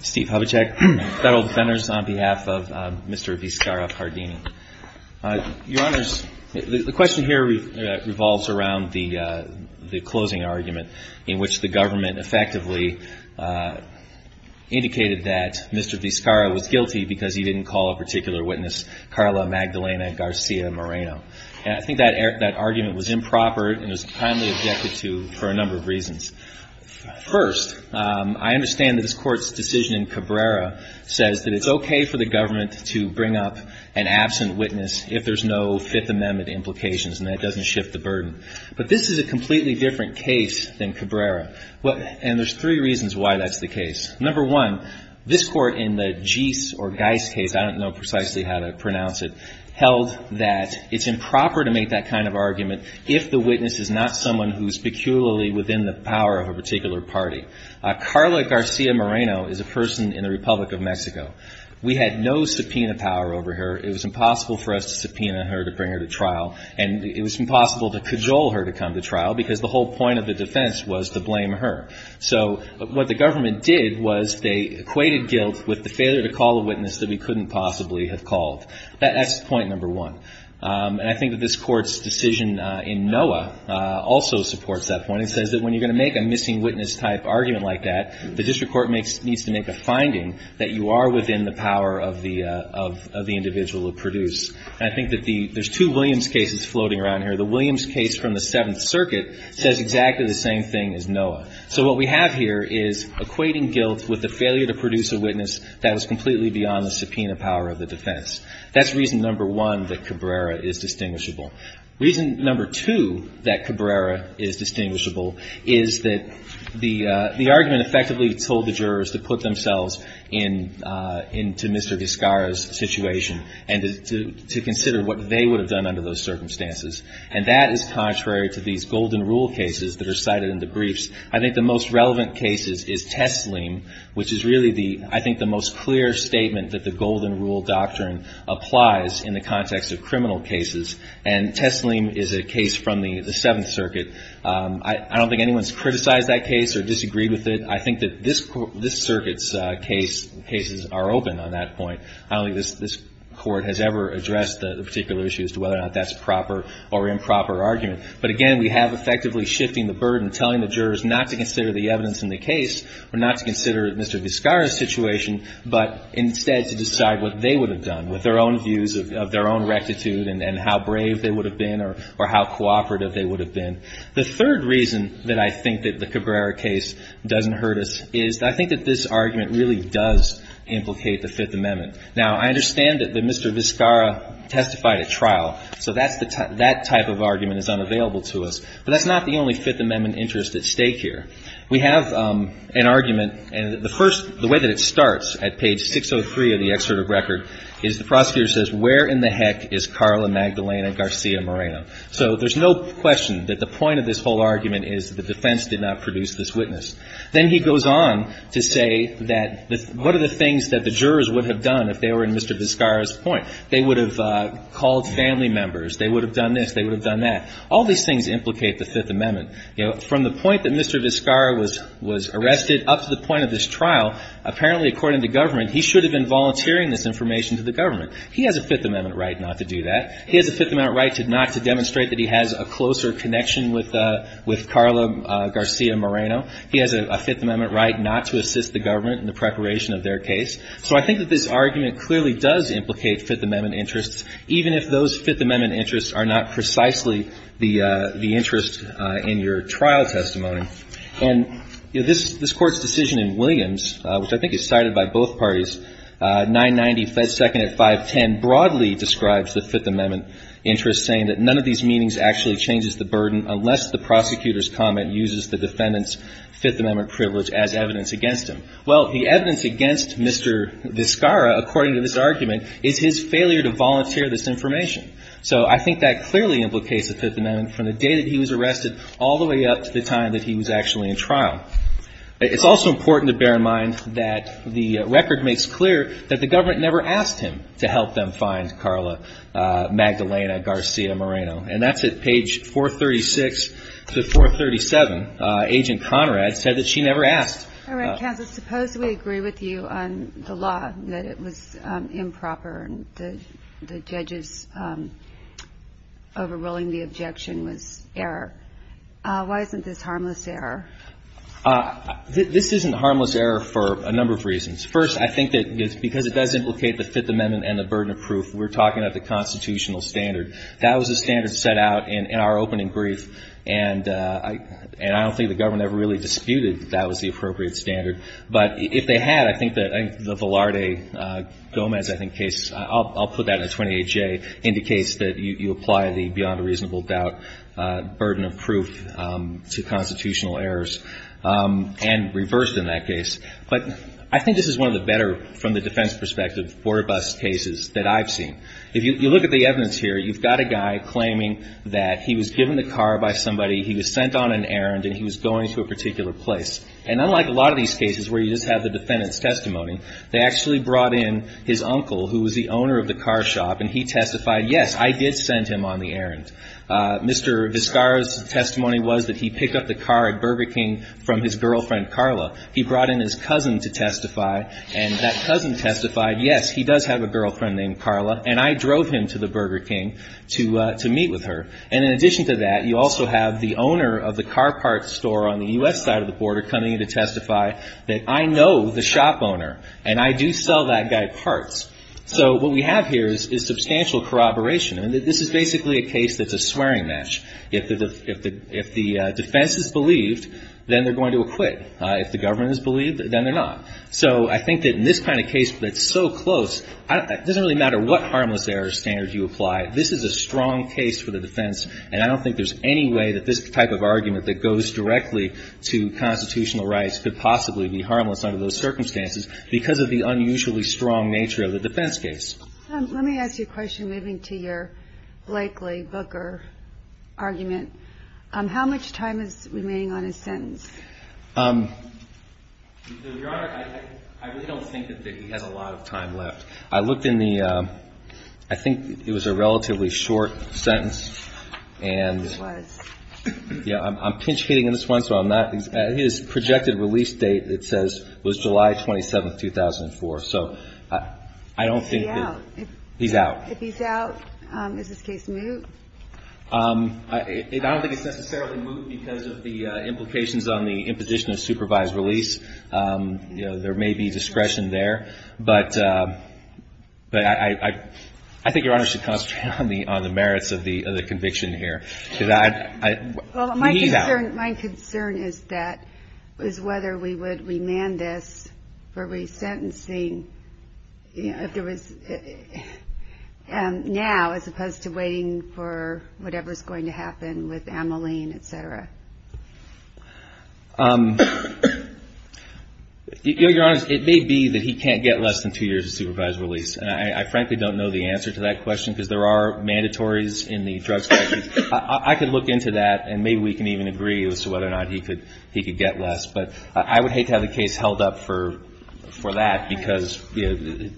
Steve Hubachek, Federal Defenders, on behalf of Mr. Vizcarra-Pardini. Your Honors, the question here revolves around the closing argument in which the government effectively indicated that Mr. Vizcarra was guilty because he didn't call a particular witness, Carla Magdalena Garcia Moreno. I think that argument was improper and it was kindly objected to for a number of reasons. First, I understand that this Court's decision in Cabrera says that it's okay for the government to bring up an absent witness if there's no Fifth Amendment implications and that doesn't shift the burden. But this is a completely different case than Cabrera, and there's three reasons why that's the case. Number one, this Court in the Geis or Geis case, I don't know precisely how to pronounce it, held that it's improper to make that kind of argument if the witness is not someone who's peculiarly within the power of a particular party. Carla Garcia Moreno is a person in the Republic of Mexico. We had no subpoena power over her. It was impossible for us to subpoena her to bring her to trial, and it was impossible to cajole her to come to trial because the whole point of the defense was to blame her. So what the government did was they equated guilt with the failure to call a witness that we couldn't possibly have called. That's point number one. And I think that this Court's decision in NOAA also supports that point. It says that when you're going to make a missing witness type argument like that, the district court needs to make a finding that you are within the power of the individual or produce. And I think that there's two Williams cases floating around here. The Williams case from the Seventh Circuit says exactly the same thing as NOAA. So what we have here is equating guilt with the failure to produce a witness that was completely beyond the subpoena power of the defense. That's reason number one that Cabrera is distinguishable. Reason number two that Cabrera is distinguishable is that the argument effectively told the jurors to put themselves into Mr. Vizcarra's situation and to consider what they would have done under those circumstances. And that is contrary to these golden rule cases that are cited in the briefs. I think the most relevant case is Tessleem, which is really the, I think, the most clear statement that the golden rule doctrine applies in the context of criminal cases. And Tessleem is a case from the Seventh Circuit. I don't think anyone's criticized that case or disagreed with it. I think that this Circuit's cases are open on that point. I don't think this Court has ever addressed the particular issue as to whether or not that's a proper or improper argument. But again, we have effectively shifting the burden, telling the jurors not to consider the evidence in the case or not to consider Mr. Vizcarra's situation, but instead to decide what they would have done with their own views of their own rectitude and how brave they would have been or how cooperative they would have been. The third reason that I think that the Cabrera case doesn't hurt us is I think that this argument really does implicate the Fifth Amendment. Now, I understand that Mr. Vizcarra testified at trial. So that type of argument is unavailable to us, but that's not the only Fifth Amendment interest at stake here. We have an argument, and the way that it starts at page 603 of the excerpt of record is the prosecutor says, where in the heck is Carla Magdalena Garcia Moreno? So there's no question that the point of this whole argument is the defense did not produce this witness. Then he goes on to say that what are the things that the jurors would have done if they were in Mr. Vizcarra's point? They would have called family members. They would have done this. They would have done that. All these things implicate the Fifth Amendment. You know, from the point that Mr. Vizcarra was arrested up to the point of this trial, apparently, according to government, he should have been volunteering this information to the government. He has a Fifth Amendment right not to do that. He has a Fifth Amendment right not to demonstrate that he has a closer connection with Carla Garcia Moreno. He has a Fifth Amendment right not to assist the government in the preparation of their case. So I think that this argument clearly does implicate Fifth Amendment interests, even if those Fifth Amendment interests are not precisely the interest in your trial testimony. And, you know, this Court's decision in Williams, which I think is cited by both parties, 990 Fed Second at 510, broadly describes the Fifth Amendment interest, saying that none of these meanings actually changes the burden unless the prosecutor's comment uses the defendant's Fifth Amendment privilege as evidence against him. Well, the evidence against Mr. Vizcarra, according to this argument, is his failure to volunteer this information. So I think that clearly implicates the Fifth Amendment from the day that he was arrested all the way up to the time that he was actually in trial. It's also important to bear in mind that the record makes clear that the government never asked him to help them find Carla Magdalena Garcia Moreno. And that's at page 436 to 437. Agent Conrad said that she never asked. All right, counsel, suppose we agree with you on the law, that it was improper and the judge's overruling the objection was error. Why isn't this harmless error? This isn't harmless error for a number of reasons. First, I think that because it does implicate the Fifth Amendment and the burden of proof, we're talking about the constitutional standard. That was the standard set out in our opening brief. And I don't think the government ever really disputed that that was the appropriate standard. But if they had, I think that the Velarde-Gomez, I think, case, I'll put that in the 28J, indicates that you apply the beyond a reasonable doubt burden of proof to constitutional errors and reversed in that case. But I think this is one of the better, from the defense perspective, border bus cases that I've seen. If you look at the evidence here, you've got a guy claiming that he was given the car by somebody, he was sent on an errand, and he was going to a particular place. And unlike a lot of these cases where you just have the defendant's testimony, they actually brought in his uncle, who was the owner of the car shop, and he testified, yes, I did send him on the errand. Mr. Vizcarra's testimony was that he picked up the car at Burger King from his girlfriend, Carla. He brought in his cousin to testify. And that cousin testified, yes, he does have a girlfriend named Carla, and I drove him to the Burger King to meet with her. And in addition to that, you also have the owner of the car parts store on the U.S. side of the border coming in to testify that I know the shop owner, and I do sell that guy parts. So what we have here is substantial corroboration. And this is basically a case that's a swearing match. If the defense is believed, then they're going to acquit. If the government is believed, then they're not. So I think that in this kind of case that's so close, it doesn't really matter what harmless error standard you apply. This is a strong case for the defense, and I don't think there's any way that this type of argument that goes directly to constitutional rights could possibly be harmless under those circumstances because of the unusually strong nature of the defense case. Let me ask you a question moving to your Blakely-Booker argument. How much time is remaining on his sentence? Your Honor, I really don't think that he has a lot of time left. I looked in the ‑‑ I think it was a relatively short sentence. It was. Yeah. I'm pinch-hitting on this one, so I'm not ‑‑ his projected release date, it says, was July 27th, 2004. So I don't think that ‑‑ He's out. He's out. If he's out, is his case moot? I don't think it's necessarily moot because of the implications on the imposition of supervised release. You know, there may be discretion there. But I think Your Honor should concentrate on the merits of the conviction here. Because I ‑‑ Well, my concern is that, is whether we would remand this for resentencing if there was now, as opposed to waiting for whatever is going to happen with Ameline, et cetera. Your Honor, it may be that he can't get less than two years of supervised release. And I frankly don't know the answer to that question because there are mandatories in the drug statute. I could look into that and maybe we can even agree as to whether or not he could get less. But I would hate to have the case held up for that because, you know,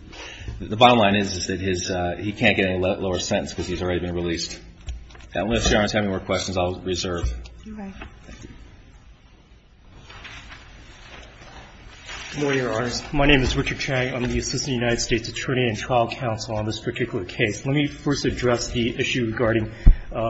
the bottom line is that he can't get a lower sentence because he's already been released. Unless Your Honor has any more questions, I'll reserve. You're right. Thank you. Lawyer honors, my name is Richard Chang. I'm the Assistant United States Attorney and trial counsel on this particular case. Let me first address the issue regarding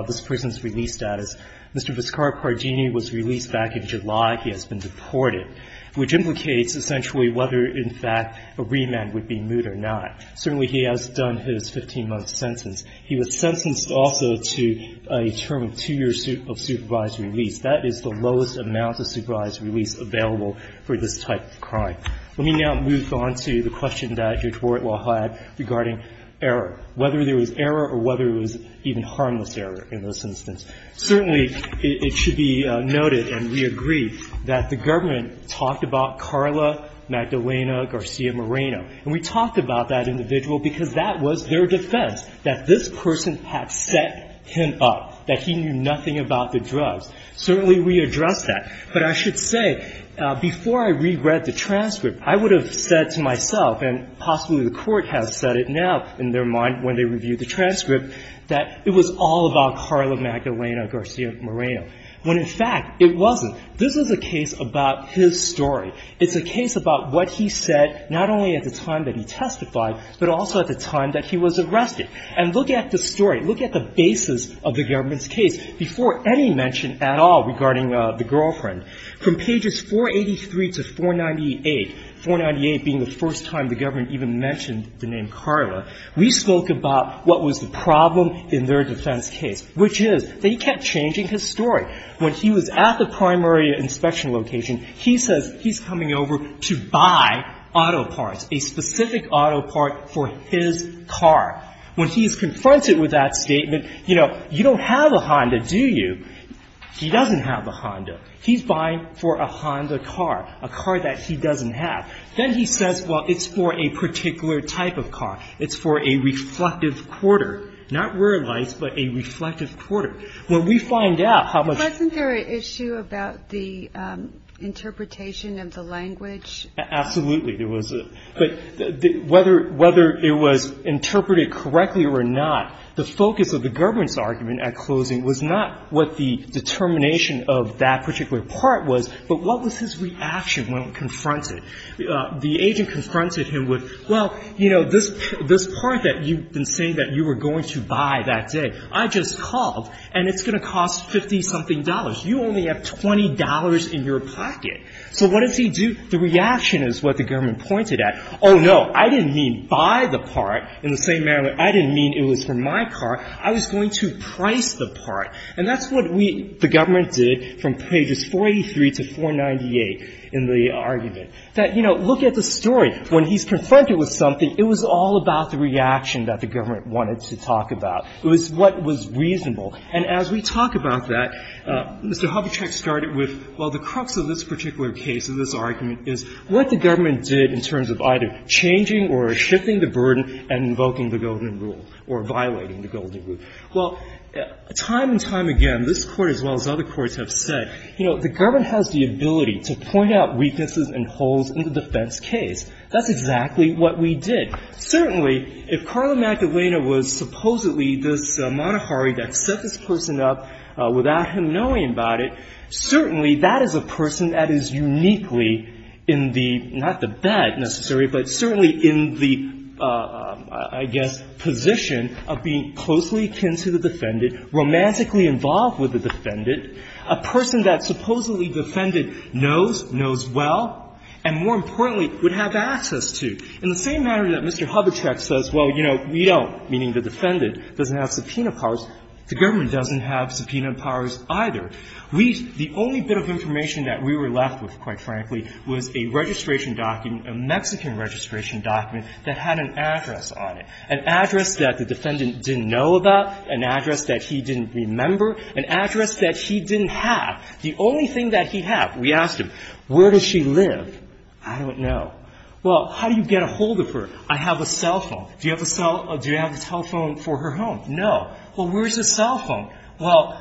this person's release status. Mr. Viscar Pardini was released back in July. He has been deported, which implicates essentially whether, in fact, a remand would be moot or not. Certainly, he has done his 15-month sentence. He was sentenced also to a term of two years of supervised release. That is the lowest amount of supervised release available for this type of crime. Let me now move on to the question that Your Honor had regarding error, whether there was error or whether it was even harmless error in this instance. Certainly, it should be noted and we agree that the government talked about Carla Magdalena Garcia Moreno. And we talked about that individual because that was their defense, that this person had set him up, that he knew nothing about the drugs. Certainly, we addressed that. But I should say, before I reread the transcript, I would have said to myself, and possibly the Court has said it now in their mind when they reviewed the transcript, that it was all about Carla Magdalena Garcia Moreno, when, in fact, it wasn't. This is a case about his story. It's a case about what he said not only at the time that he testified, but also at the time that he was arrested. And look at the story. Look at the basis of the government's case before any mention at all regarding the girlfriend. From pages 483 to 498, 498 being the first time the government even mentioned the name Carla, we spoke about what was the problem in their defense case, which is that he kept changing his story. When he was at the primary inspection location, he says he's coming over to buy auto parts, a specific auto part for his car. When he is confronted with that statement, you know, you don't have a Honda, do you? He doesn't have a Honda. He's buying for a Honda car, a car that he doesn't have. Then he says, well, it's for a particular type of car. It's for a reflective quarter, not rear lights, but a reflective quarter. Well, we find out how much of a problem that is. Ginsburg. Wasn't there an issue about the interpretation of the language? Absolutely. There was a – but whether it was interpreted correctly or not, the focus of the government's argument at closing was not what the determination of that particular part was, but what was his reaction when confronted? The agent confronted him with, well, you know, this part that you've been saying that you were going to buy that day. I just called, and it's going to cost 50-something dollars. You only have $20 in your pocket. So what does he do? The reaction is what the government pointed at. Oh, no. I didn't mean buy the part in the same manner. I didn't mean it was for my car. I was going to price the part. And that's what we – the government did from pages 43 to 498 in the argument, that, you know, look at the story. When he's confronted with something, it was all about the reaction that the government wanted to talk about. It was what was reasonable. And as we talk about that, Mr. Hubachek started with, well, the crux of this particular case and this argument is what the government did in terms of either changing or shifting the burden and invoking the Golden Rule or violating the Golden Rule. Well, time and time again, this Court as well as other courts have said, you know, the government has the ability to point out weaknesses and holes in the defense That's exactly what we did. Certainly, if Carla Magdalena was supposedly this monoharry that set this person up without him knowing about it, certainly that is a person that is uniquely in the – not the bed, necessarily, but certainly in the, I guess, position of being closely akin to the defendant, romantically involved with the defendant, a person that supposedly the defendant knows, knows well, and more importantly, would have access to. In the same manner that Mr. Hubachek says, well, you know, we don't, meaning the defendant doesn't have subpoena powers, the government doesn't have subpoena powers either. We – the only bit of information that we were left with, quite frankly, was a registration document, a Mexican registration document that had an address on it, an address that the defendant didn't know about, an address that he didn't remember, an address that he didn't have. The only thing that he had, we asked him, where does she live? I don't know. Well, how do you get a hold of her? I have a cell phone. Do you have a cell – do you have a telephone for her home? No. Well, where's her cell phone? Well,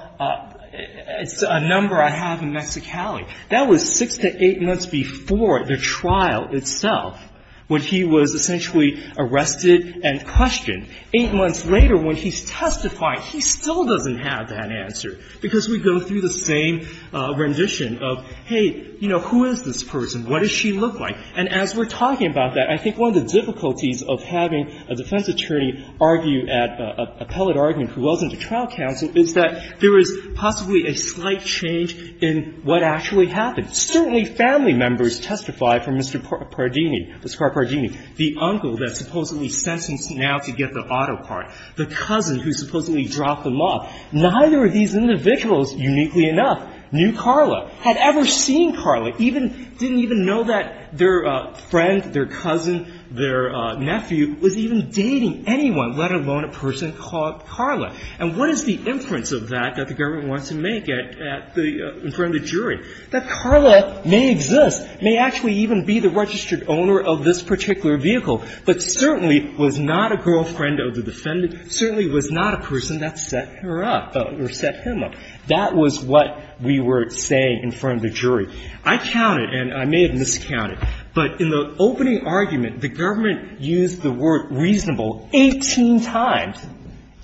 it's a number I have in Mexicali. That was six to eight months before the trial itself, when he was essentially arrested and questioned. Eight months later, when he's testifying, he still doesn't have that answer, because we go through the same rendition of, hey, you know, who is this person? What does she look like? And as we're talking about that, I think one of the difficulties of having a defense attorney argue at appellate argument who wasn't a trial counsel is that there is possibly a slight change in what actually happened. Certainly, family members testified for Mr. Pardini, Oscar Pardini, the uncle that's supposedly sentenced now to get the auto part, the cousin who supposedly dropped them off. Neither of these individuals, uniquely enough, knew Carla, had ever seen Carla, even – didn't even know that their friend, their cousin, their nephew was even dating anyone, let alone a person called Carla. And what is the inference of that that the government wants to make at the – in front of the jury? That Carla may exist, may actually even be the registered owner of this particular vehicle, but certainly was not a girlfriend of the defendant, certainly was not a person that set her up or set him up. That was what we were saying in front of the jury. I counted, and I may have miscounted, but in the opening argument, the government used the word reasonable 18 times,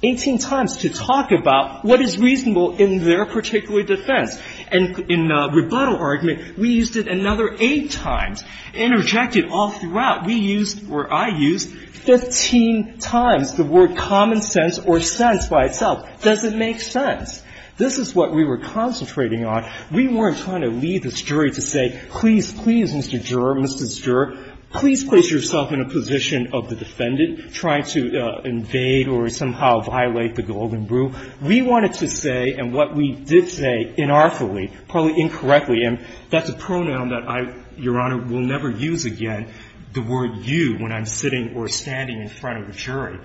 18 times to talk about what is reasonable in their particular defense. And in the rebuttal argument, we used it another 8 times, interjected all throughout. We used, or I used, 15 times the word common sense or sense by itself. Does it make sense? This is what we were concentrating on. We weren't trying to lead this jury to say, please, please, Mr. Juror, Mrs. Juror, please place yourself in a position of the defendant trying to invade or somehow violate the Golden Rule. We wanted to say, and what we did say inartfully, probably incorrectly, and that's a pronoun that I, Your Honor, will never use again, the word you, when I'm sitting or standing in front of a jury,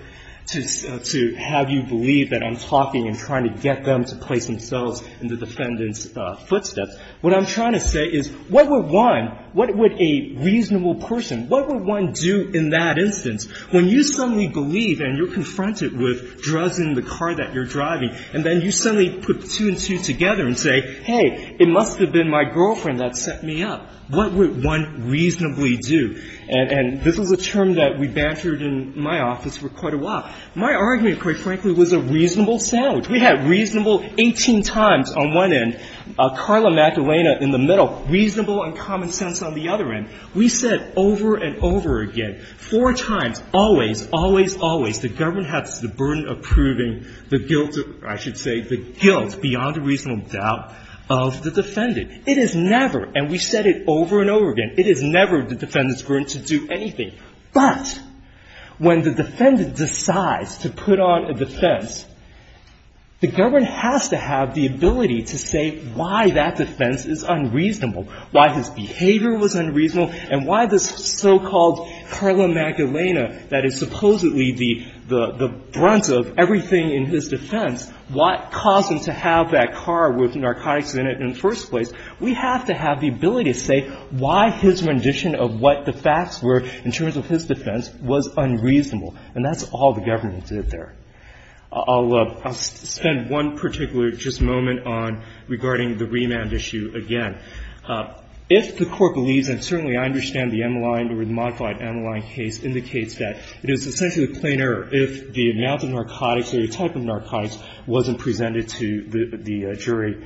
to have you believe that I'm talking and trying to get them to place themselves in the defendant's footsteps. What I'm trying to say is, what would one, what would a reasonable person, what would one do in that instance when you suddenly believe, and you're confronted with drugs in the car that you're driving, and then you suddenly put two and two together and say, hey, it must have been my girlfriend that set me up. What would one reasonably do? And this was a term that we bantered in my office for quite a while. My argument, quite frankly, was a reasonable sandwich. We had reasonable 18 times on one end, Carla McElwain in the middle, reasonable and common sense on the other end. We said over and over again, four times, always, always, always, the government has the burden of proving the guilt, I should say, the guilt beyond a reasonable doubt of the defendant. It is never, and we said it over and over again, it is never the defendant's burden to do anything. But when the defendant decides to put on a defense, the government has to have the ability to say why that defense is unreasonable, why his behavior was unreasonable and why this so-called Carla McElwain that is supposedly the brunt of everything in his defense, what caused him to have that car with narcotics in it in the first place, we have to have the ability to say why his rendition of what the facts were in terms of his defense was unreasonable. And that's all the government did there. I'll spend one particular just moment on regarding the remand issue again. If the Court believes, and certainly I understand the Emeline or the modified Emeline case indicates that it is essentially a plain error if the amount of narcotics or the type of narcotics wasn't presented to the jury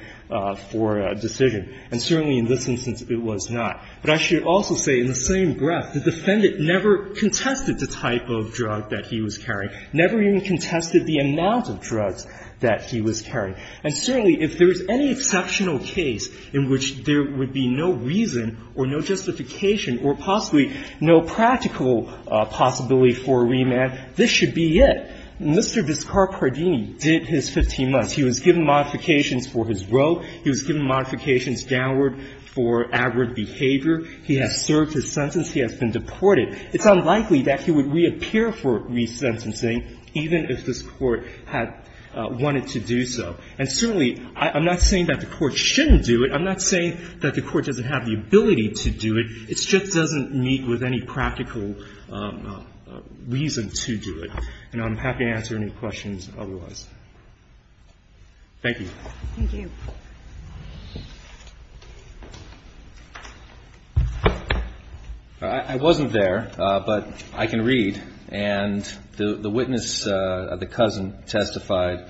for a decision. And certainly in this instance, it was not. But I should also say in the same breath, the defendant never contested the type of drug that he was carrying, never even contested the amount of drugs that he was carrying. And certainly if there is any exceptional case in which there would be no reason or no justification or possibly no practical possibility for remand, this should be it. Mr. Viscar Pardini did his 15 months. He was given modifications for his rope. He was given modifications downward for aggregate behavior. He has served his sentence. He has been deported. It's unlikely that he would reappear for resentencing even if this Court had wanted to do so. And certainly I'm not saying that the Court shouldn't do it. I'm not saying that the Court doesn't have the ability to do it. It just doesn't meet with any practical reason to do it. And I'm happy to answer any questions otherwise. Thank you. Thank you. I wasn't there, but I can read. And the witness, the cousin, testified,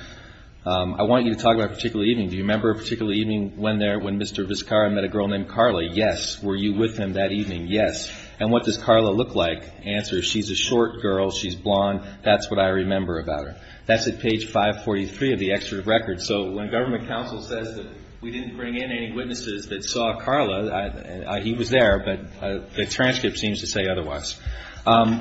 I want you to talk about a particular evening. Do you remember a particular evening when Mr. Viscar met a girl named Carla? Yes. Were you with him that evening? Yes. And what does Carla look like? Answer, she's a short girl. She's blonde. That's what I remember about her. That's at page 543 of the excerpt of the record. So when government counsel says that we didn't bring in any witnesses that saw Carla, he was there, but the transcript seems to say otherwise.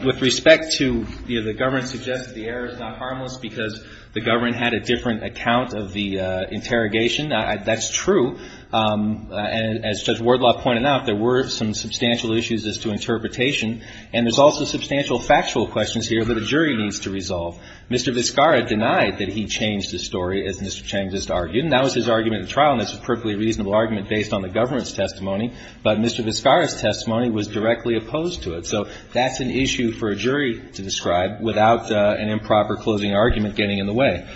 With respect to, you know, the government suggests that the error is not harmless because the government had a different account of the interrogation. That's true. As Judge Wardlaw pointed out, there were some substantial issues as to interpretation. And there's also substantial factual questions here that the jury needs to resolve. Mr. Viscara denied that he changed the story, as Mr. Chang just argued. And that was his argument in trial, and that's a perfectly reasonable argument based on the government's testimony. But Mr. Viscara's testimony was directly opposed to it. So that's an issue for a jury to describe without an improper closing argument getting in the way.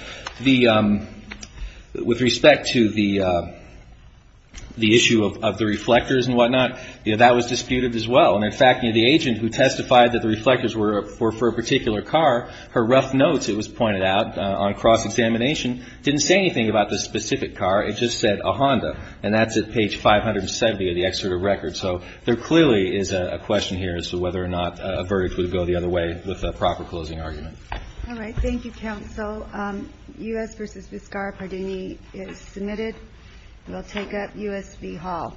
With respect to the issue of the reflectors and whatnot, that was disputed as well. And, in fact, the agent who testified that the reflectors were for a particular car, her rough notes, it was pointed out, on cross-examination, didn't say anything about the specific car. It just said a Honda. And that's at page 570 of the excerpt of the record. So there clearly is a question here as to whether or not a verdict would go the other way with a proper closing argument. All right. Thank you, counsel. U.S. v. Viscara-Pardini is submitted. We'll take up U.S. v. Hall. U.S. v. Hall. U.S. v. Hall.